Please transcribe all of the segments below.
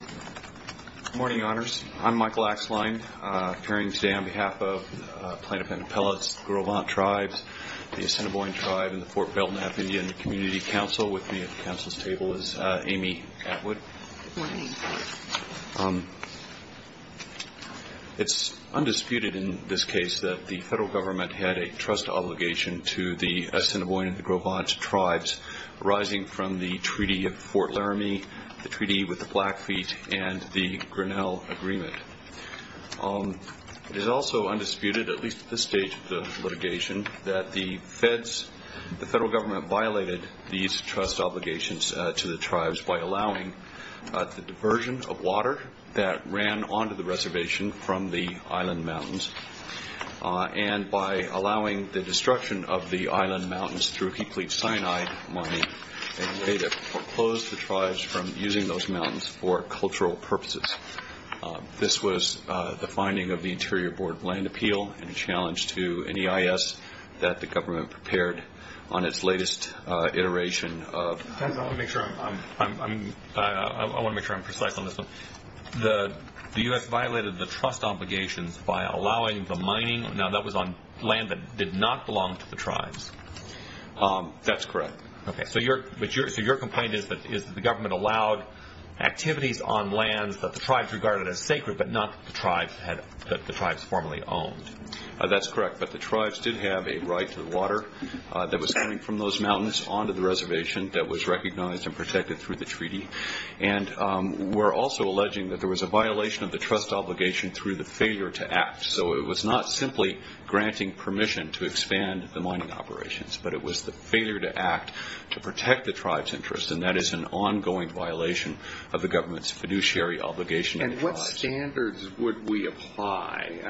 Good morning, honors. I'm Michael Axline, appearing today on behalf of Plano-Pennapella's Gros Ventre Tribes, the Assiniboine Tribe, and the Fort Belknap Indian Community Council. With me at the council's table is Amy Atwood. Good morning. It's undisputed in this case that the federal government had a trust obligation to the Assiniboine and the Gros Ventre Tribes, arising from the Treaty of Fort Laramie, the Treaty with the Blackfeet, and the Grinnell Agreement. It is also undisputed, at least at this stage of the litigation, that the federal government violated these trust obligations to the tribes by allowing the diversion of water that ran onto the reservation from the island mountains and by allowing the destruction of the island mountains through Hippolyte Sinai money, in a way that foreclosed the tribes from using those mountains for cultural purposes. This was the finding of the Interior Board Land Appeal and a challenge to NEIS that the government prepared on its latest iteration of... I want to make sure I'm precise on this one. The U.S. violated the trust obligations by allowing the mining, now that was on land that did not belong to the tribes. That's correct. So your complaint is that the government allowed activities on lands that the tribes regarded as sacred but not that the tribes formerly owned. That's correct, but the tribes did have a right to the water that was coming from those mountains onto the reservation that was recognized and protected through the treaty. And we're also alleging that there was a violation of the trust obligation through the failure to act. So it was not simply granting permission to expand the mining operations, but it was the failure to act to protect the tribes' interests, and that is an ongoing violation of the government's fiduciary obligation. And what standards would we apply?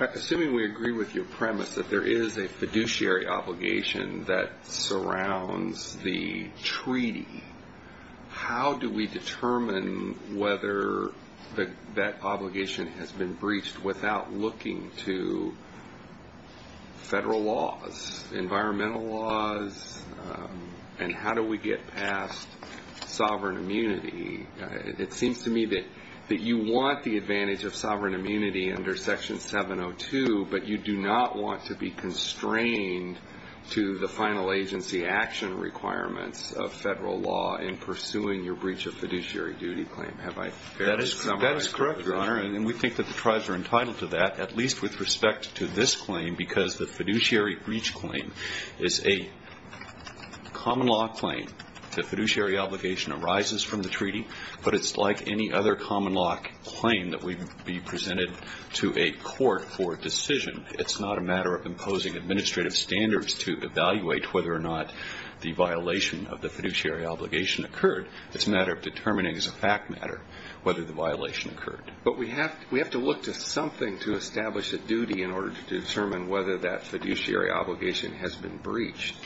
Assuming we agree with your premise that there is a fiduciary obligation that surrounds the treaty, how do we determine whether that obligation has been breached without looking to federal laws, environmental laws, and how do we get past sovereign immunity? It seems to me that you want the advantage of sovereign immunity under Section 702, but you do not want to be constrained to the final agency action requirements of federal law in pursuing your breach of fiduciary duty claim. That is correct, Your Honor, and we think that the tribes are entitled to that, at least with respect to this claim, because the fiduciary breach claim is a common law claim. The fiduciary obligation arises from the treaty, but it's like any other common law claim that would be presented to a court for a decision. It's not a matter of imposing administrative standards to evaluate whether or not the violation of the fiduciary obligation occurred. It's a matter of determining as a fact matter whether the violation occurred. But we have to look to something to establish a duty in order to determine whether that fiduciary obligation has been breached.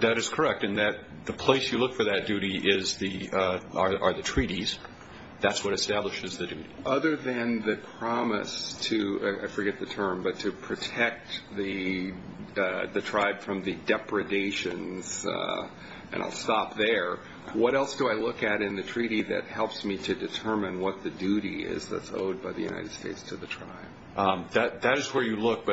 That is correct, and the place you look for that duty are the treaties. That's what establishes the duty. Other than the promise to, I forget the term, but to protect the tribe from the depredations, and I'll stop there, what else do I look at in the treaty that helps me to determine what the duty is that's owed by the United States to the tribe? That is where you look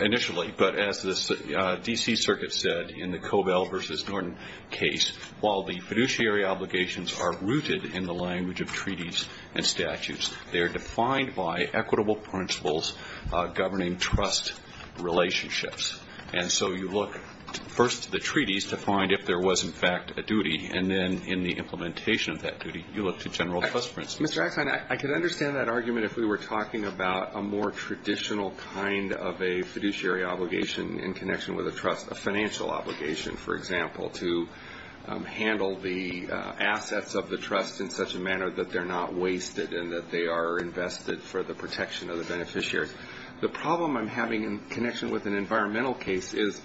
initially, but as the D.C. Circuit said in the Cobell v. Norton case, while the fiduciary obligations are rooted in the language of treaties and statutes, they are defined by equitable principles governing trust relationships. And so you look first to the treaties to find if there was in fact a duty, and then in the implementation of that duty you look to general trust principles. Mr. Axon, I could understand that argument if we were talking about a more traditional kind of a fiduciary obligation in connection with a trust, a financial obligation, for example, to handle the assets of the trust in such a manner that they're not wasted and that they are invested for the protection of the beneficiaries. The problem I'm having in connection with an environmental case is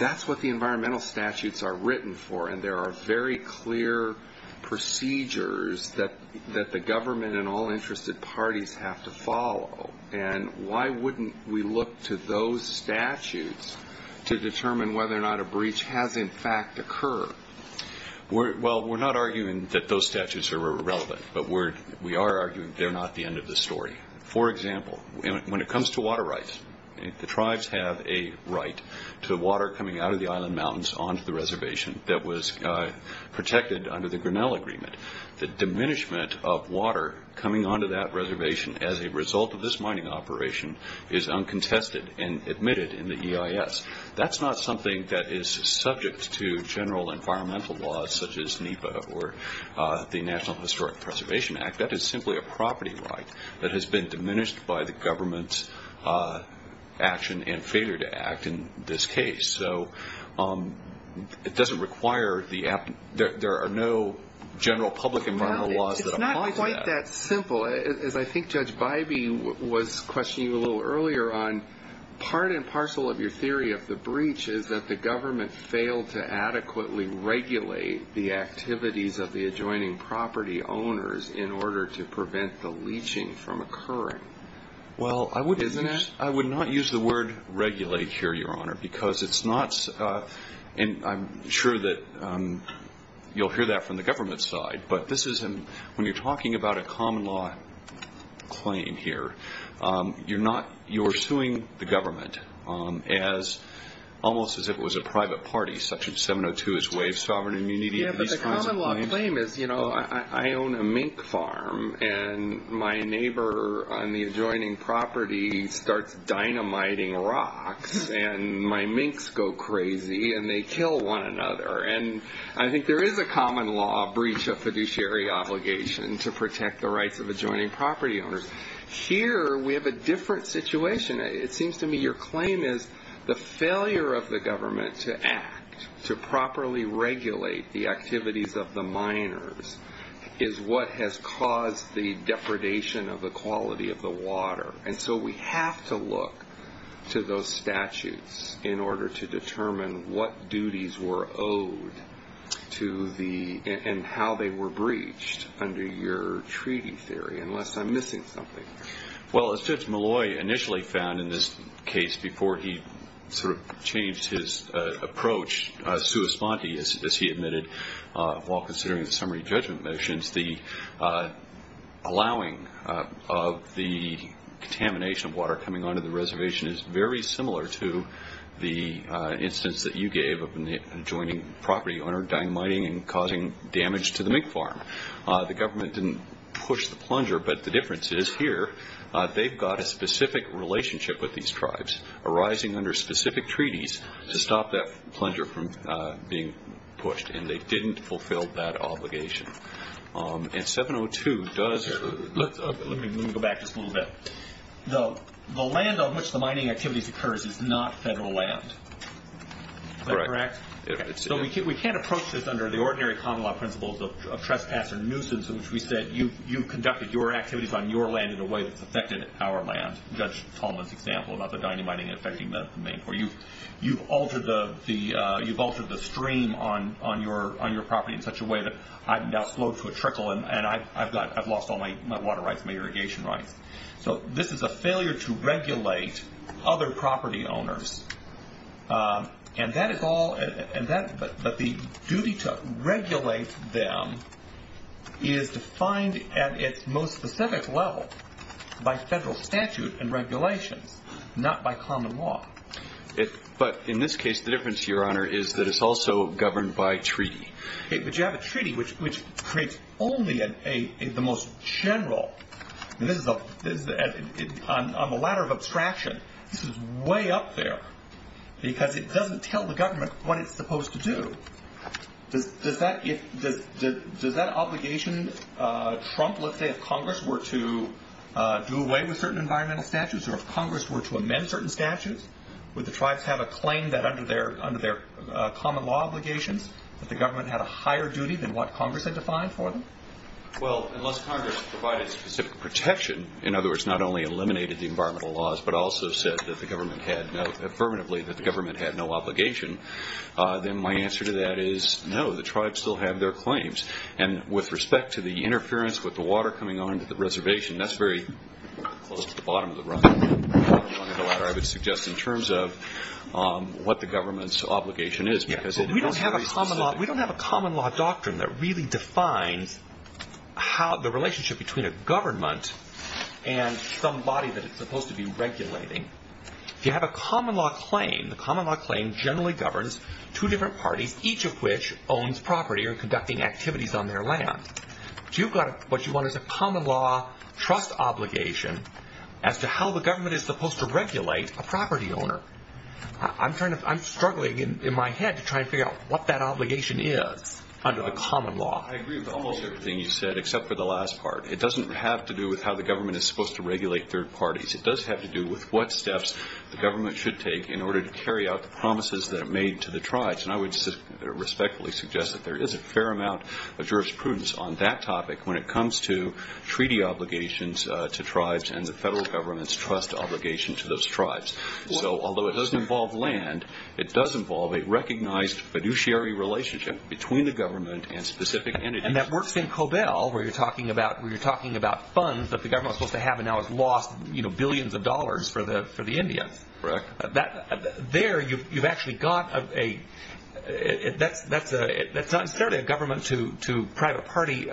that's what the environmental statutes are written for, and there are very clear procedures that the government and all interested parties have to follow. And why wouldn't we look to those statutes to determine whether or not a breach has in fact occurred? Well, we're not arguing that those statutes are irrelevant, but we are arguing they're not the end of the story. For example, when it comes to water rights, the tribes have a right to water coming out of the island mountains onto the reservation that was protected under the Grinnell Agreement. The diminishment of water coming onto that reservation as a result of this mining operation is uncontested and admitted in the EIS. That's not something that is subject to general environmental laws such as NEPA or the National Historic Preservation Act. That is simply a property right that has been diminished by the government's action and failure to act in this case. So it doesn't require the act. There are no general public environmental laws that apply to that. It's not quite that simple. As I think Judge Bybee was questioning you a little earlier on, part and parcel of your theory of the breach is that the government failed to adequately regulate the activities of the adjoining property owners in order to prevent the leaching from occurring. Well, I would not use the word regulate here, Your Honor, because it's not – and I'm sure that you'll hear that from the government side, but when you're talking about a common law claim here, you're suing the government almost as if it was a private party, such as 702 is waive sovereign immunity of these kinds of claims. Yeah, but the common law claim is, you know, I own a mink farm, and my neighbor on the adjoining property starts dynamiting rocks, and my minks go crazy, and they kill one another. And I think there is a common law breach of fiduciary obligation to protect the rights of adjoining property owners. Here we have a different situation. It seems to me your claim is the failure of the government to act, to properly regulate the activities of the miners, is what has caused the depredation of the quality of the water. And so we have to look to those statutes in order to determine what duties were owed and how they were breached under your treaty theory, unless I'm missing something. Well, as Judge Malloy initially found in this case, before he sort of changed his approach sua sponte, as he admitted, while considering the summary judgment motions, the allowing of the contamination of water coming onto the reservation is very similar to the instance that you gave of an adjoining property owner dynamiting and causing damage to the mink farm. The government didn't push the plunger, but the difference is here, they've got a specific relationship with these tribes arising under specific treaties to stop that plunger from being pushed, and they didn't fulfill that obligation. And 702 does... Let me go back just a little bit. The land on which the mining activities occurs is not federal land. Is that correct? So we can't approach this under the ordinary common law principles of trespass or nuisance, in which we said you conducted your activities on your land in a way that's affected our land. Judge Tolman's example about the dynamiting affecting the mink, where you've altered the stream on your property in such a way that I've now slowed to a trickle and I've lost all my water rights, my irrigation rights. So this is a failure to regulate other property owners. And that is all... But the duty to regulate them is defined at its most specific level by federal statute and regulations, not by common law. But in this case, the difference, Your Honor, is that it's also governed by treaty. But you have a treaty which creates only the most general... On the ladder of abstraction, this is way up there because it doesn't tell the government what it's supposed to do. Does that obligation trump, let's say, if Congress were to do away with certain environmental statutes or if Congress were to amend certain statutes? Would the tribes have a claim that under their common law obligations that the government had a higher duty than what Congress had defined for them? Well, unless Congress provided specific protection, in other words, not only eliminated the environmental laws but also said affirmatively that the government had no obligation, then my answer to that is no, the tribes still have their claims. And with respect to the interference with the water coming onto the reservation, that's very close to the bottom of the run. On the ladder, I would suggest in terms of what the government's obligation is. We don't have a common law doctrine that really defines the relationship between a government and somebody that it's supposed to be regulating. If you have a common law claim, the common law claim generally governs two different parties, each of which owns property or conducting activities on their land. What you want is a common law trust obligation as to how the government is supposed to regulate a property owner. I'm struggling in my head to try and figure out what that obligation is under the common law. I agree with almost everything you said except for the last part. It doesn't have to do with how the government is supposed to regulate third parties. It does have to do with what steps the government should take in order to carry out the promises that it made to the tribes. And I would respectfully suggest that there is a fair amount of jurisprudence on that topic when it comes to treaty obligations to tribes and the federal government's trust obligation to those tribes. So although it doesn't involve land, it does involve a recognized fiduciary relationship between the government and specific entities. And that works in Cobell where you're talking about funds that the government was supposed to have and now has lost billions of dollars for the Indians. Correct. There you've actually got a... That's not necessarily a government to private party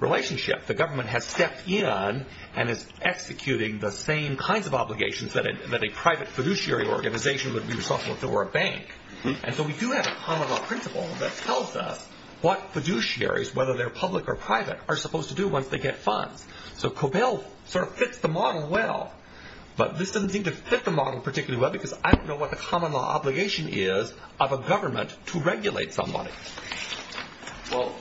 relationship. The government has stepped in and is executing the same kinds of obligations that a private fiduciary organization would be responsible if there were a bank. And so we do have a common law principle that tells us what fiduciaries, whether they're public or private, are supposed to do once they get funds. So Cobell sort of fits the model well. But this doesn't seem to fit the model particularly well because I don't know what the common law obligation is of a government to regulate somebody. Well,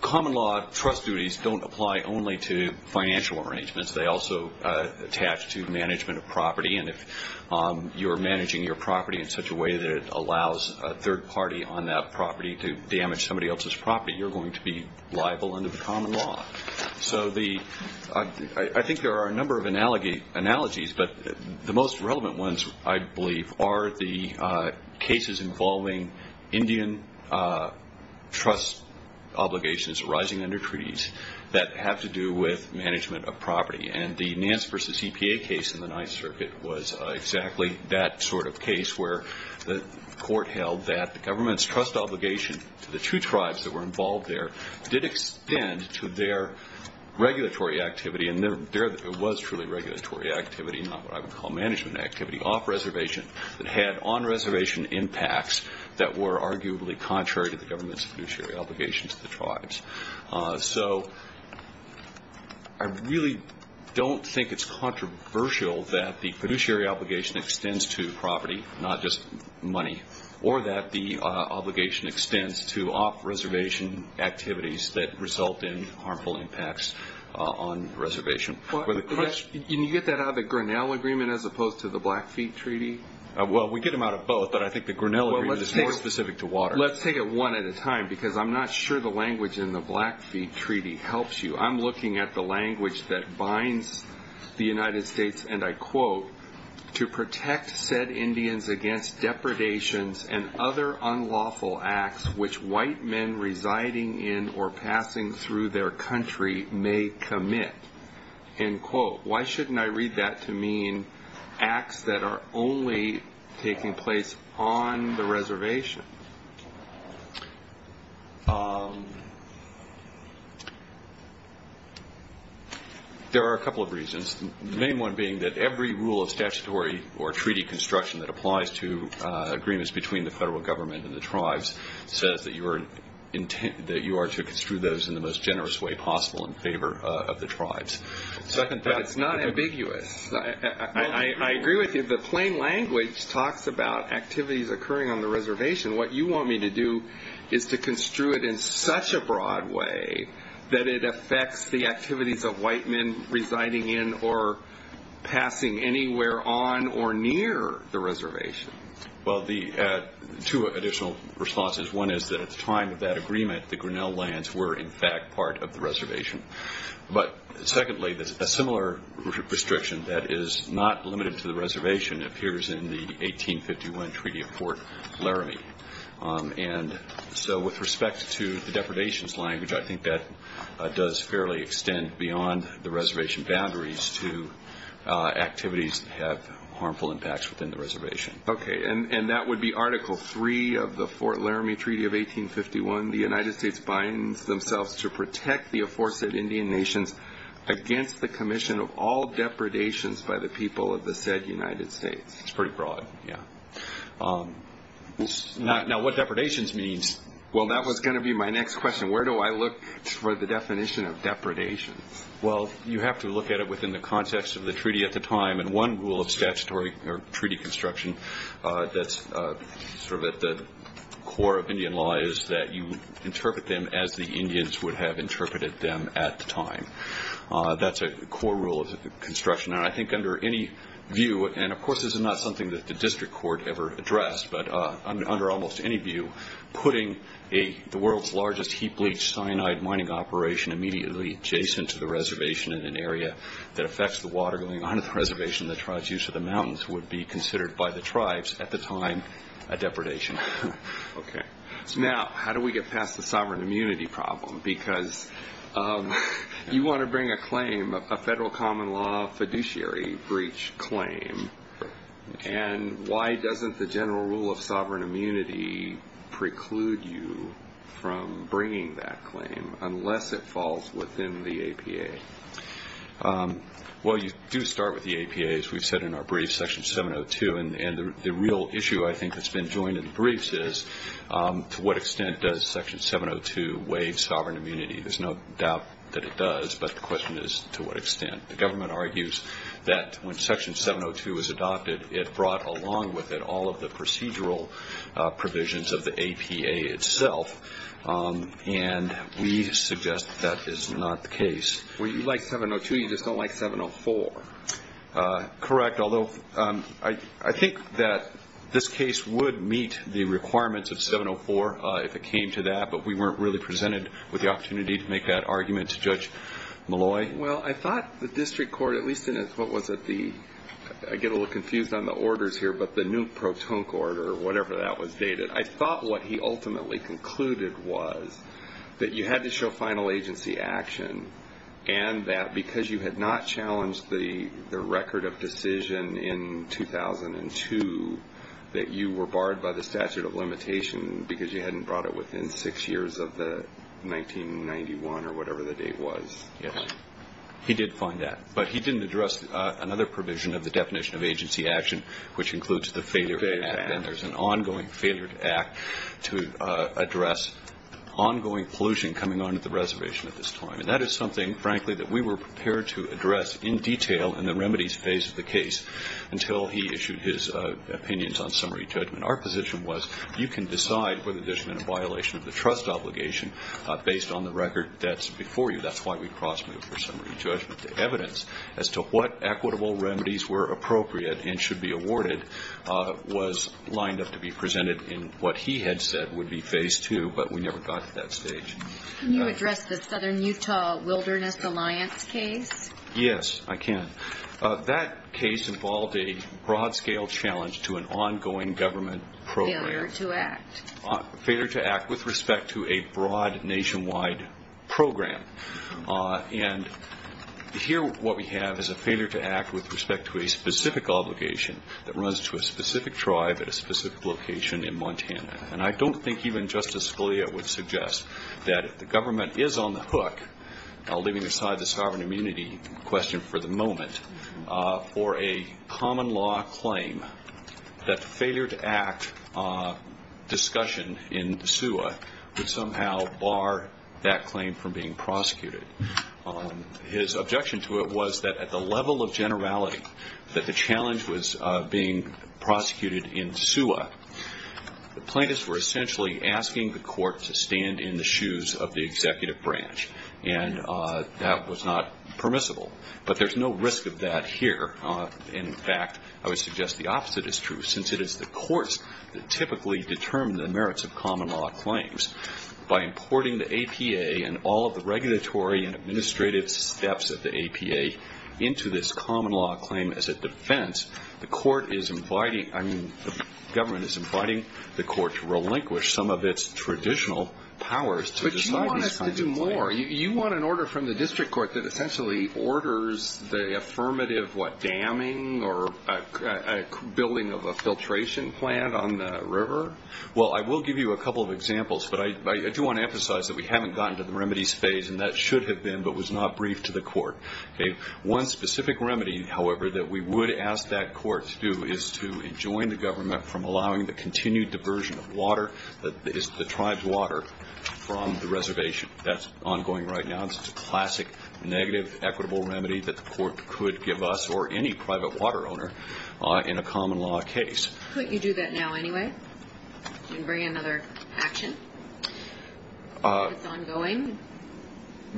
common law trust duties don't apply only to financial arrangements. They also attach to management of property. And if you're managing your property in such a way that it allows a third party on that property to damage somebody else's property, you're going to be liable under the common law. So I think there are a number of analogies, but the most relevant ones I believe are the cases involving Indian trust obligations arising under treaties that have to do with management of property. And the Nance v. EPA case in the Ninth Circuit was exactly that sort of case where the court held that the government's trust obligation to the two tribes that were involved there did extend to their regulatory activity. And it was truly regulatory activity, not what I would call management activity, off-reservation that had on-reservation impacts that were arguably contrary to the government's fiduciary obligations to the tribes. So I really don't think it's controversial that the fiduciary obligation extends to property, not just money, or that the obligation extends to off-reservation activities that result in harmful impacts on reservation. Can you get that out of the Grinnell Agreement as opposed to the Blackfeet Treaty? Well, we get them out of both, but I think the Grinnell Agreement is more specific to water. Let's take it one at a time, because I'm not sure the language in the Blackfeet Treaty helps you. I'm looking at the language that binds the United States, and I quote, to protect said Indians against depredations and other unlawful acts which white men residing in or passing through their country may commit. End quote. Why shouldn't I read that to mean acts that are only taking place on the reservation? There are a couple of reasons, the main one being that every rule of statutory or treaty construction that applies to agreements between the federal government and the tribes says that you are to construe those in the most generous way possible in favor of the tribes. But it's not ambiguous. I agree with you. The plain language talks about activities occurring on the reservation. What you want me to do is to construe it in such a broad way that it affects the activities of white men residing in or passing anywhere on or near the reservation. Well, two additional responses. One is that at the time of that agreement, the Grinnell lands were, in fact, part of the reservation. But secondly, a similar restriction that is not limited to the reservation appears in the 1851 Treaty of Fort Laramie. And so with respect to the depredations language, I think that does fairly extend beyond the reservation boundaries to activities that have harmful impacts within the reservation. Okay, and that would be Article 3 of the Fort Laramie Treaty of 1851. The United States binds themselves to protect the aforesaid Indian nations against the commission of all depredations by the people of the said United States. It's pretty broad, yeah. Now, what depredations means? Well, that was going to be my next question. Where do I look for the definition of depredations? Well, you have to look at it within the context of the treaty at the time. And one rule of statutory treaty construction that's sort of at the core of Indian law is that you interpret them as the Indians would have interpreted them at the time. That's a core rule of construction. And I think under any view, and, of course, this is not something that the district court ever addressed, but under almost any view, putting the world's largest heap-leach cyanide mining operation immediately adjacent to the reservation in an area that affects the water going onto the reservation that drives use of the mountains would be considered by the tribes at the time a depredation. Okay. Now, how do we get past the sovereign immunity problem? Because you want to bring a claim, a federal common law fiduciary breach claim, and why doesn't the general rule of sovereign immunity preclude you from bringing that claim unless it falls within the APA? Well, you do start with the APA, as we've said in our brief, Section 702, and the real issue I think that's been joined in the briefs is to what extent does Section 702 waive sovereign immunity. There's no doubt that it does, but the question is to what extent. The government argues that when Section 702 was adopted, it brought along with it all of the procedural provisions of the APA itself, and we suggest that that is not the case. Well, you like 702, you just don't like 704. Correct, although I think that this case would meet the requirements of 704 if it came to that, but we weren't really presented with the opportunity to make that argument to Judge Malloy. Well, I thought the district court, at least in what was at the – I get a little confused on the orders here, but the new pro tonque order, whatever that was dated, I thought what he ultimately concluded was that you had to show final agency action and that because you had not challenged the record of decision in 2002, that you were barred by the statute of limitation because you hadn't brought it within six years of the 1991 or whatever the date was. He did find that, but he didn't address another provision of the definition of agency action, which includes the failure to act, and there's an ongoing failure to act to address ongoing pollution coming on at the reservation at this time, and that is something, frankly, that we were prepared to address in detail in the remedies phase of the case until he issued his opinions on summary judgment. Our position was you can decide whether there's been a violation of the trust obligation based on the record that's before you. That's why we cross-moved for summary judgment. The evidence as to what equitable remedies were appropriate and should be awarded was lined up to be presented in what he had said would be phase two, but we never got to that stage. Can you address the Southern Utah Wilderness Alliance case? Yes, I can. That case involved a broad-scale challenge to an ongoing government program. Failure to act. Failure to act with respect to a broad nationwide program, and here what we have is a failure to act with respect to a specific obligation that runs to a specific tribe at a specific location in Montana, and I don't think even Justice Scalia would suggest that if the government is on the hook, for a common law claim, that the failure to act discussion in SUA would somehow bar that claim from being prosecuted. His objection to it was that at the level of generality that the challenge was being prosecuted in SUA, the plaintiffs were essentially asking the court to stand in the shoes of the executive branch, and that was not permissible. But there's no risk of that here. In fact, I would suggest the opposite is true, since it is the courts that typically determine the merits of common law claims. By importing the APA and all of the regulatory and administrative steps of the APA into this common law claim as a defense, the government is inviting the court to relinquish some of its traditional powers to decide these kinds of claims. You want an order from the district court that essentially orders the affirmative damming or building of a filtration plant on the river? Well, I will give you a couple of examples, but I do want to emphasize that we haven't gotten to the remedies phase, and that should have been but was not briefed to the court. One specific remedy, however, that we would ask that court to do is to enjoin the government from allowing the continued diversion of water, the tribe's water, from the reservation. That's ongoing right now. It's a classic negative equitable remedy that the court could give us or any private water owner in a common law case. Couldn't you do that now anyway? Couldn't you bring another action that's ongoing?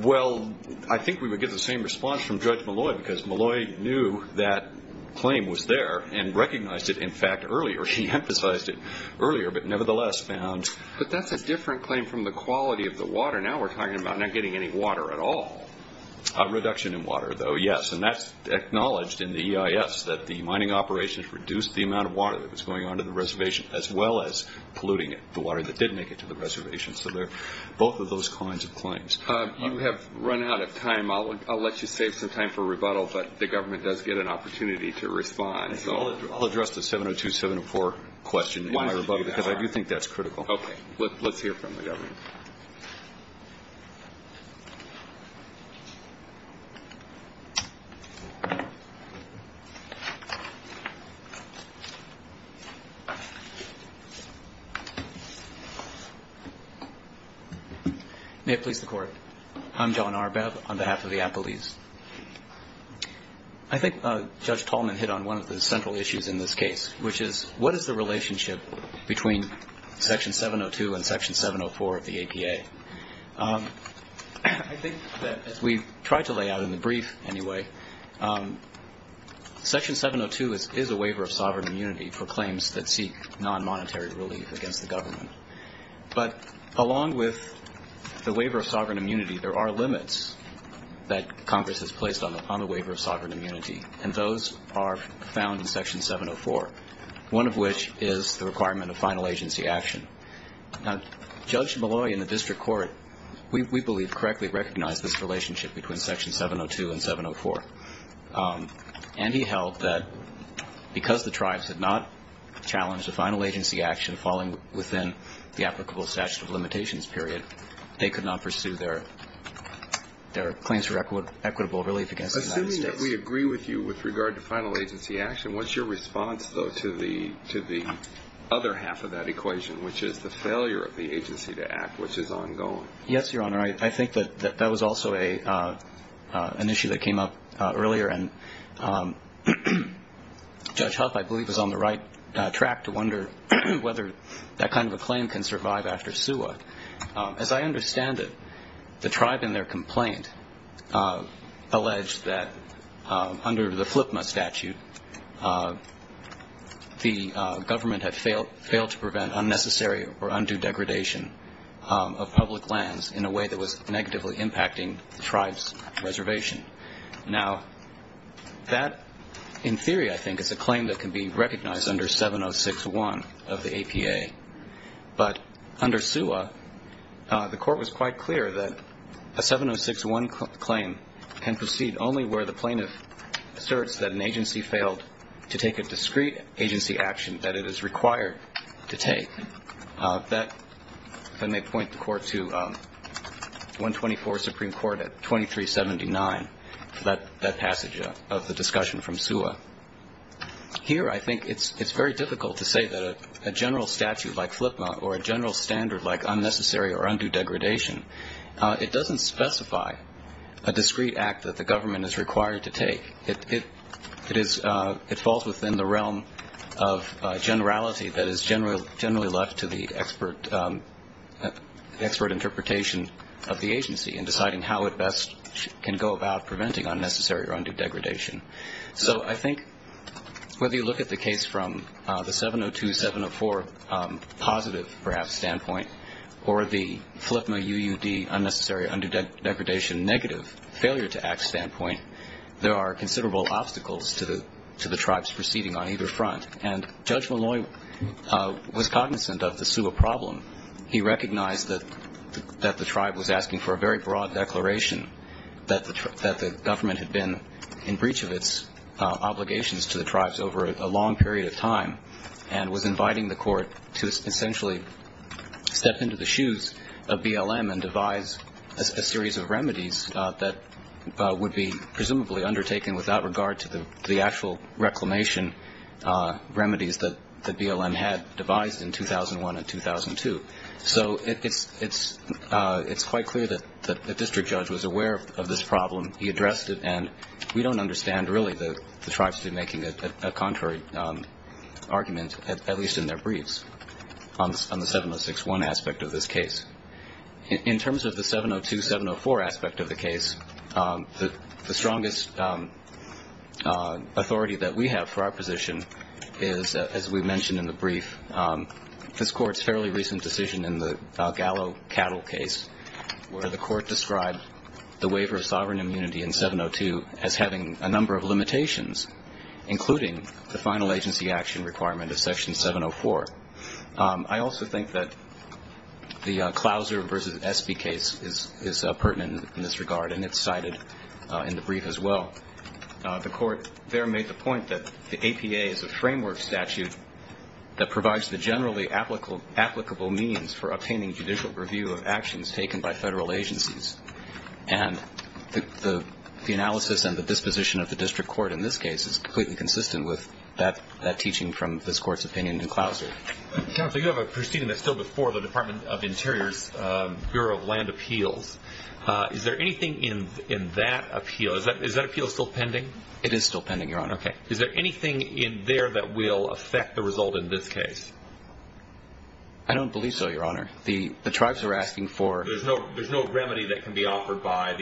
Well, I think we would get the same response from Judge Malloy because Malloy knew that claim was there and recognized it, in fact, earlier. She emphasized it earlier but nevertheless found But that's a different claim from the quality of the water. Now we're talking about not getting any water at all. Reduction in water, though, yes, and that's acknowledged in the EIS that the mining operations reduced the amount of water that was going onto the reservation as well as polluting it, the water that did make it to the reservation. So they're both of those kinds of claims. You have run out of time. I'll let you save some time for rebuttal, but the government does get an opportunity to respond. I'll address the 702.704 question in my rebuttal because I do think that's critical. Okay. Let's hear from the government. May it please the Court. I'm John Arbev on behalf of the appellees. I think Judge Tolman hit on one of the central issues in this case, which is what is the relationship between Section 702 and Section 704 of the APA? I think that as we tried to lay out in the brief anyway, Section 702 is a waiver of sovereign immunity for claims that seek non-monetary relief against the government. But along with the waiver of sovereign immunity, there are limits that Congress has placed on the waiver of sovereign immunity, and those are found in Section 704, one of which is the requirement of final agency action. Now, Judge Malloy in the district court, we believe, correctly recognized this relationship between Section 702 and 704. And he held that because the tribes had not challenged a final agency action falling within the applicable statute of limitations period, they could not pursue their claims for equitable relief against the United States. And yet we agree with you with regard to final agency action. What's your response, though, to the other half of that equation, which is the failure of the agency to act, which is ongoing? Yes, Your Honor. I think that that was also an issue that came up earlier, and Judge Huff, I believe, was on the right track to wonder whether that kind of a claim can survive after SUA. As I understand it, the tribe in their complaint alleged that under the FLPMA statute, the government had failed to prevent unnecessary or undue degradation of public lands in a way that was negatively impacting the tribe's reservation. Now, that, in theory, I think, is a claim that can be recognized under 706.1 of the APA. But under SUA, the Court was quite clear that a 706.1 claim can proceed only where the plaintiff asserts that an agency failed to take a discrete agency action that it is required to take. That, if I may point the Court to 124 Supreme Court at 2379, that passage of the discussion from SUA. Here, I think it's very difficult to say that a general statute like FLPMA or a general standard like unnecessary or undue degradation, it doesn't specify a discrete act that the government is required to take. It falls within the realm of generality that is generally left to the expert interpretation of the agency in deciding how it best can go about preventing unnecessary or undue degradation. So I think whether you look at the case from the 702.704 positive, perhaps, standpoint, or the FLPMA UUD unnecessary or undue degradation negative failure to act standpoint, there are considerable obstacles to the tribes proceeding on either front. And Judge Malloy was cognizant of the SUA problem. He recognized that the tribe was asking for a very broad declaration that the government had been in breach of its obligations to the tribes over a long period of time and was inviting the Court to essentially step into the shoes of BLM and devise a series of remedies that would be presumably undertaken without regard to the actual reclamation remedies that BLM had devised in 2001 and 2002. So it's quite clear that the district judge was aware of this problem. He addressed it. And we don't understand, really, the tribes to be making a contrary argument, at least in their briefs, on the 706.1 aspect of this case. In terms of the 702.704 aspect of the case, the strongest authority that we have for our position is, as we mentioned in the brief, this Court's fairly recent decision in the Gallo Cattle case where the Court described the waiver of sovereign immunity in 702 as having a number of limitations, including the final agency action requirement of Section 704. I also think that the Clouser v. Espy case is pertinent in this regard, and it's cited in the brief as well. The Court there made the point that the APA is a framework statute that provides the generally applicable means for obtaining judicial review of actions taken by federal agencies. And the analysis and the disposition of the district court in this case is completely consistent with that teaching from this Court's opinion in Clouser. Counsel, you have a proceeding that's still before the Department of Interior's Bureau of Land Appeals. Is there anything in that appeal? Is that appeal still pending? It is still pending, Your Honor. Okay. Is there anything in there that will affect the result in this case? I don't believe so, Your Honor. The tribes are asking for- There's no remedy that can be offered by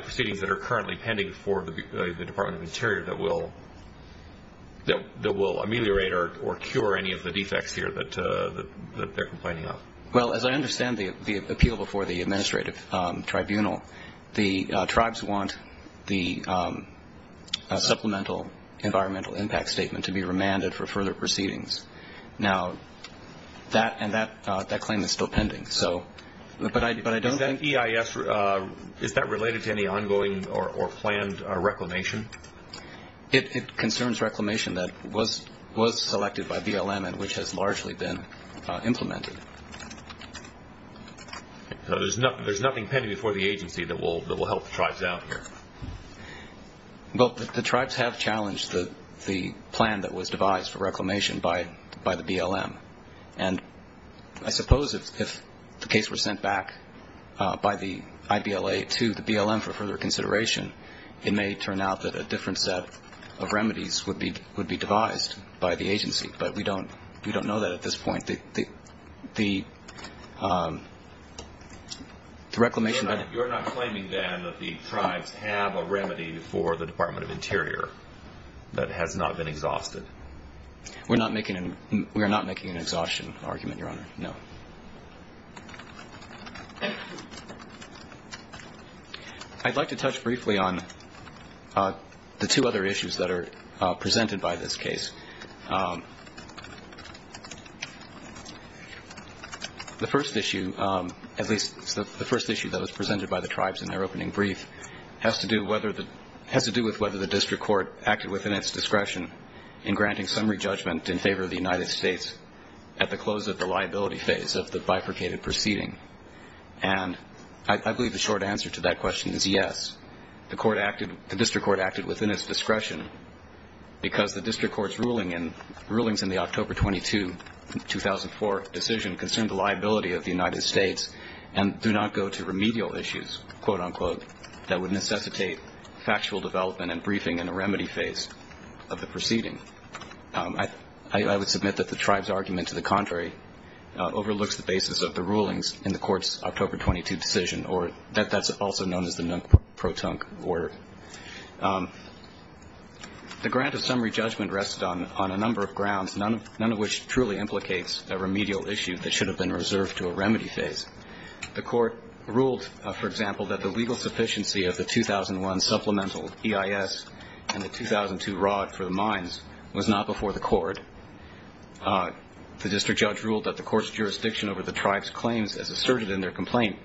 proceedings that are currently pending for the Department of Interior that will ameliorate or cure any of the defects here that they're complaining of. Well, as I understand the appeal before the administrative tribunal, the tribes want the supplemental environmental impact statement to be remanded for further proceedings. Now, that claim is still pending, but I don't think- Is that EIS, is that related to any ongoing or planned reclamation? It concerns reclamation that was selected by BLM and which has largely been implemented. So there's nothing pending before the agency that will help the tribes out here? Well, the tribes have challenged the plan that was devised for reclamation by the BLM, and I suppose if the case were sent back by the IBLA to the BLM for further consideration, it may turn out that a different set of remedies would be devised by the agency, but we don't know that at this point. The reclamation- You're not claiming, then, that the tribes have a remedy for the Department of Interior that has not been exhausted? We're not making an exhaustion argument, Your Honor, no. I'd like to touch briefly on the two other issues that are presented by this case. The first issue, at least the first issue that was presented by the tribes in their opening brief, has to do with whether the district court acted within its discretion in granting summary judgment in favor of the United States at the close of the liability phase of the bifurcated proceeding. And I believe the short answer to that question is yes, the district court acted within its discretion because the district court's rulings in the October 22, 2004 decision concerned the liability of the United States and do not go to remedial issues, quote-unquote, that would necessitate factual development and briefing in the remedy phase of the proceeding. I would submit that the tribes' argument, to the contrary, overlooks the basis of the rulings in the court's October 22 decision, or that that's also known as the non-protunct order. The grant of summary judgment rests on a number of grounds, none of which truly implicates a remedial issue that should have been reserved to a remedy phase. The court ruled, for example, that the legal sufficiency of the 2001 supplemental EIS and the 2002 ROD for the mines was not before the court. The district judge ruled that the court's jurisdiction over the tribes' claims as asserted in their complaint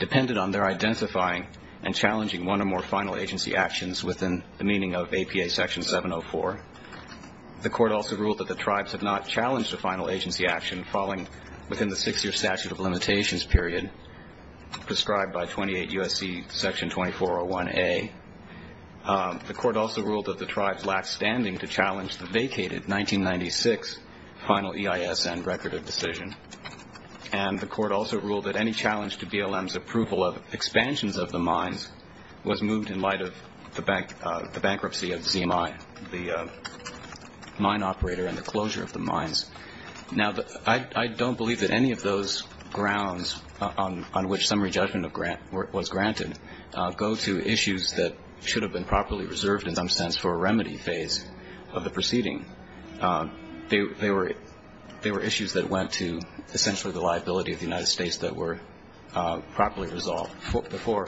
depended on their identifying and challenging one or more final agency actions within the meaning of APA Section 704. The court also ruled that the tribes had not challenged a final agency action following within the six-year statute of limitations period prescribed by 28 U.S.C. Section 2401A. The court also ruled that the tribes lacked standing to challenge the vacated 1996 final EIS and record of decision. And the court also ruled that any challenge to BLM's approval of expansions of the mines was moved in light of the bankruptcy of ZMI, the mine operator and the closure of the mines. Now, I don't believe that any of those grounds on which summary judgment was granted go to issues that should have been properly reserved in some sense for a remedy phase of the proceeding. They were issues that went to essentially the liability of the United States that were properly resolved before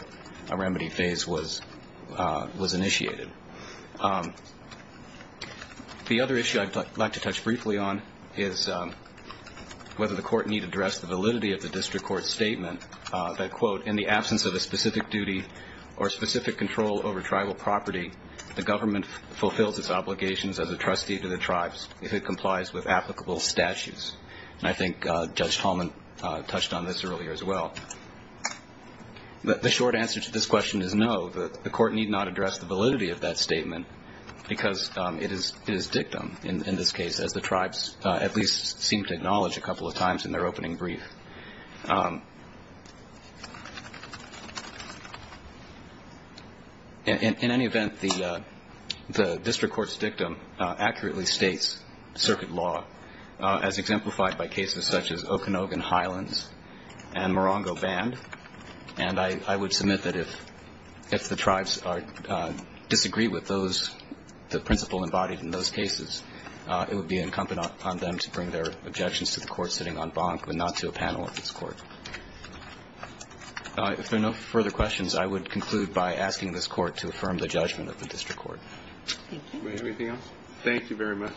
a remedy phase was initiated. The other issue I'd like to touch briefly on is whether the court need to address the validity of the district court's statement that, quote, in the absence of a specific duty or specific control over tribal property, the government fulfills its obligations as a trustee to the tribes if it complies with applicable statutes. And I think Judge Tallman touched on this earlier as well. The short answer to this question is no, the court need not address the validity of that statement because it is dictum in this case, as the tribes at least seem to acknowledge a couple of times in their opening brief. In any event, the district court's dictum accurately states circuit law as exemplified by cases such as Okanogan Highlands and Morongo Band. And I would submit that if the tribes disagree with those, the principle embodied in those cases, it would be incumbent upon them to bring their objections to the court sitting on Bonk and not to a panel of this court. If there are no further questions, I would conclude by asking this court to affirm the judgment of the district court. Thank you. Anything else? Thank you very much.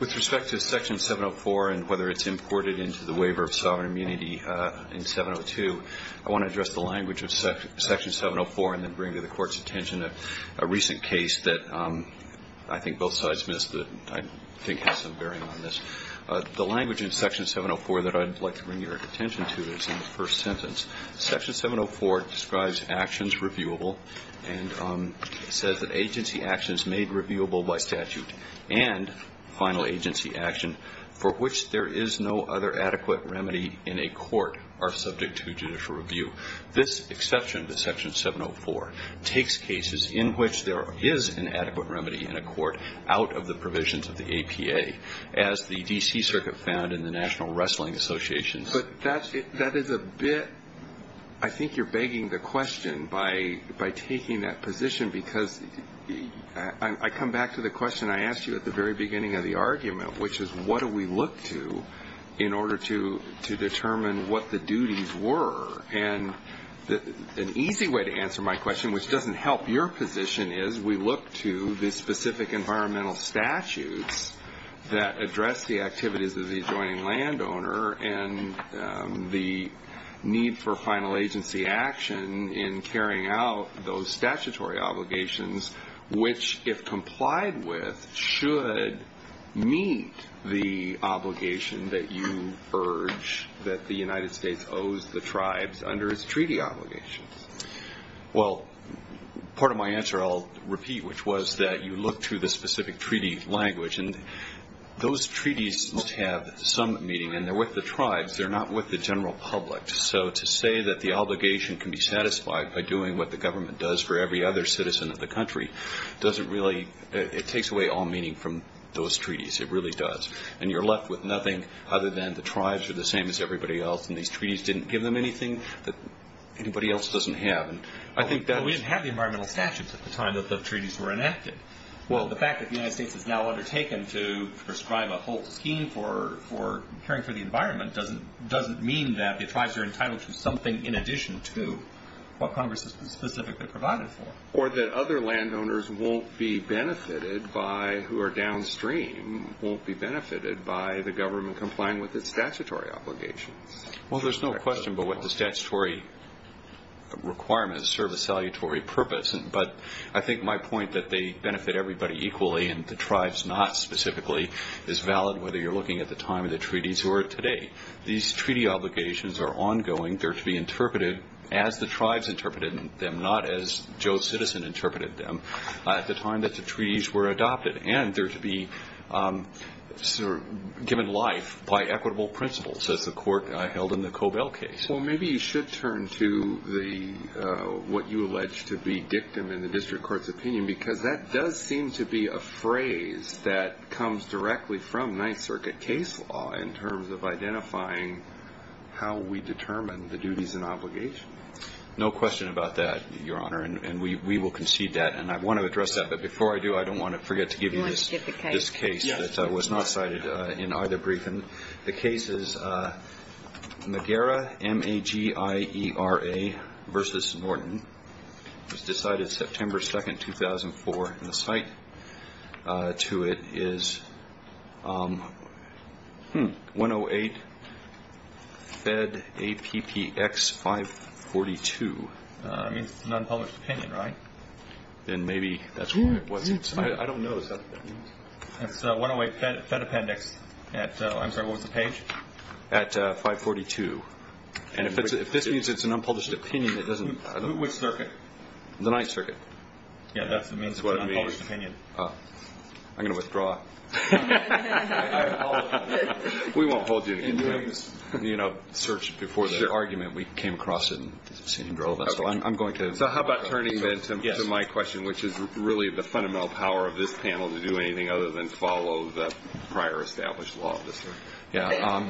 With respect to Section 704 and whether it's imported into the waiver of sovereign immunity in 702, I want to address the language of Section 704 and then bring to the court's attention a recent case that I think both sides missed that I think has some bearing on this. The language in Section 704 that I'd like to bring your attention to is in the first sentence. Section 704 describes actions reviewable and says that agency actions made reviewable by statute and final agency action for which there is no other adequate remedy in a court are subject to judicial review. This exception to Section 704 takes cases in which there is an adequate remedy in a court out of the provisions of the APA, as the D.C. Circuit found in the National Wrestling Association. But that is a bit ‑‑ I think you're begging the question by taking that position because I come back to the question I asked you at the very beginning of the argument, which is what do we look to in order to determine what the duties were? And an easy way to answer my question, which doesn't help your position, is we look to the specific environmental statutes that address the activities of the adjoining landowner and the need for final agency action in carrying out those statutory obligations which, if complied with, should meet the obligation that you urge that the United States owes the tribes under its treaty obligations. Well, part of my answer I'll repeat, which was that you look to the specific treaty language, and those treaties must have some meaning, and they're with the tribes. They're not with the general public. So to say that the obligation can be satisfied by doing what the government does for every other citizen of the country doesn't really ‑‑ it takes away all meaning from those treaties. It really does. And you're left with nothing other than the tribes are the same as everybody else, and these treaties didn't give them anything that anybody else doesn't have. We didn't have the environmental statutes at the time that the treaties were enacted. Well, the fact that the United States has now undertaken to prescribe a whole scheme for caring for the environment doesn't mean that the tribes are entitled to something in addition to what Congress has specifically provided for. Or that other landowners won't be benefited by, who are downstream, won't be benefited by the government complying with its statutory obligations. Well, there's no question but what the statutory requirements serve a salutary purpose, but I think my point that they benefit everybody equally and the tribes not specifically is valid whether you're looking at the time of the treaties or today. These treaty obligations are ongoing. They're to be interpreted as the tribes interpreted them, not as Joe Citizen interpreted them at the time that the treaties were adopted. And they're to be given life by equitable principles, as the court held in the Cobell case. Well, maybe you should turn to what you allege to be dictum in the district court's opinion because that does seem to be a phrase that comes directly from Ninth Circuit case law in terms of identifying how we determine the duties and obligations. No question about that, Your Honor, and we will concede that. And I want to address that, but before I do, I don't want to forget to give you this case that was not cited in either briefing. The case is Magera, M-A-G-I-E-R-A v. Norton. It was decided September 2nd, 2004, and the site to it is 108-Fed-A-P-P-X-542. I mean, it's an unpublished opinion, right? Then maybe that's what it was. I don't know. It's 108-Fed-A-P-P-X-542. And if this means it's an unpublished opinion, it doesn't. Which circuit? The Ninth Circuit. Yeah, that's what it means. It's an unpublished opinion. I'm going to withdraw. We won't hold you. In doing this search before the argument, we came across it. So how about turning then to my question, which is really the fundamental power of this panel, to do anything other than follow the prior established law.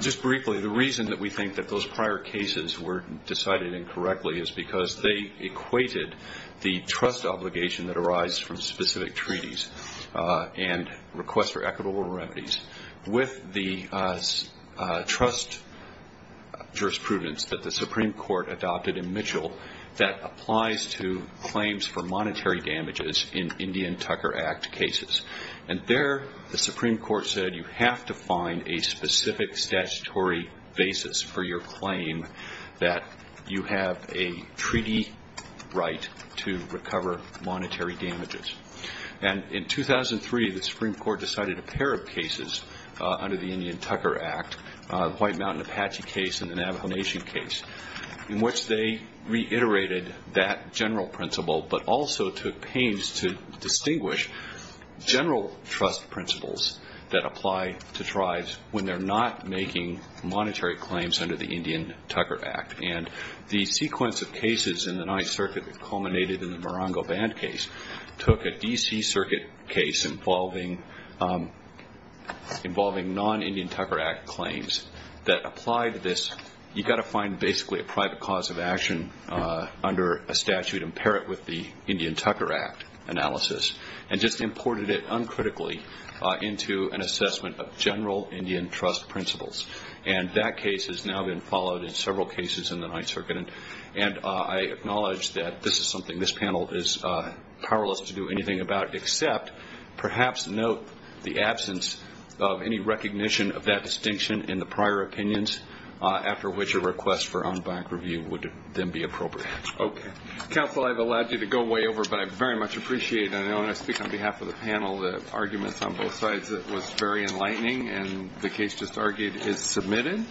Just briefly, the reason that we think that those prior cases were decided incorrectly is because they equated the trust obligation that arises from specific treaties and requests for equitable remedies with the trust jurisprudence that the Supreme Court adopted in Mitchell that applies to claims for monetary damages in Indian Tucker Act cases. And there the Supreme Court said you have to find a specific statutory basis for your claim that you have a treaty right to recover monetary damages. And in 2003, the Supreme Court decided a pair of cases under the Indian Tucker Act, the White Mountain Apache case and the Navajo Nation case, in which they reiterated that general principle but also took pains to distinguish general trust principles that apply to tribes when they're not making monetary claims under the Indian Tucker Act. And the sequence of cases in the Ninth Circuit that culminated in the Morongo Band case took a D.C. Circuit case involving non-Indian Tucker Act claims that applied to this. You've got to find basically a private cause of action under a statute and pair it with the Indian Tucker Act analysis and just imported it uncritically into an assessment of general Indian trust principles. And that case has now been followed in several cases in the Ninth Circuit. And I acknowledge that this is something this panel is powerless to do anything about except perhaps note the absence of any recognition of that distinction in the prior opinions, after which a request for on-bank review would then be appropriate. Okay. Counsel, I've allowed you to go way over, but I very much appreciate it. And I want to speak on behalf of the panel. The arguments on both sides was very enlightening, and the case just argued is submitted.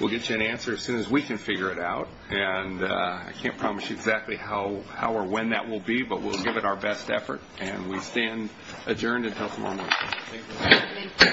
We'll get you an answer as soon as we can figure it out. And I can't promise you exactly how or when that will be, but we'll give it our best effort. And we stand adjourned until tomorrow morning. Thank you. All rise.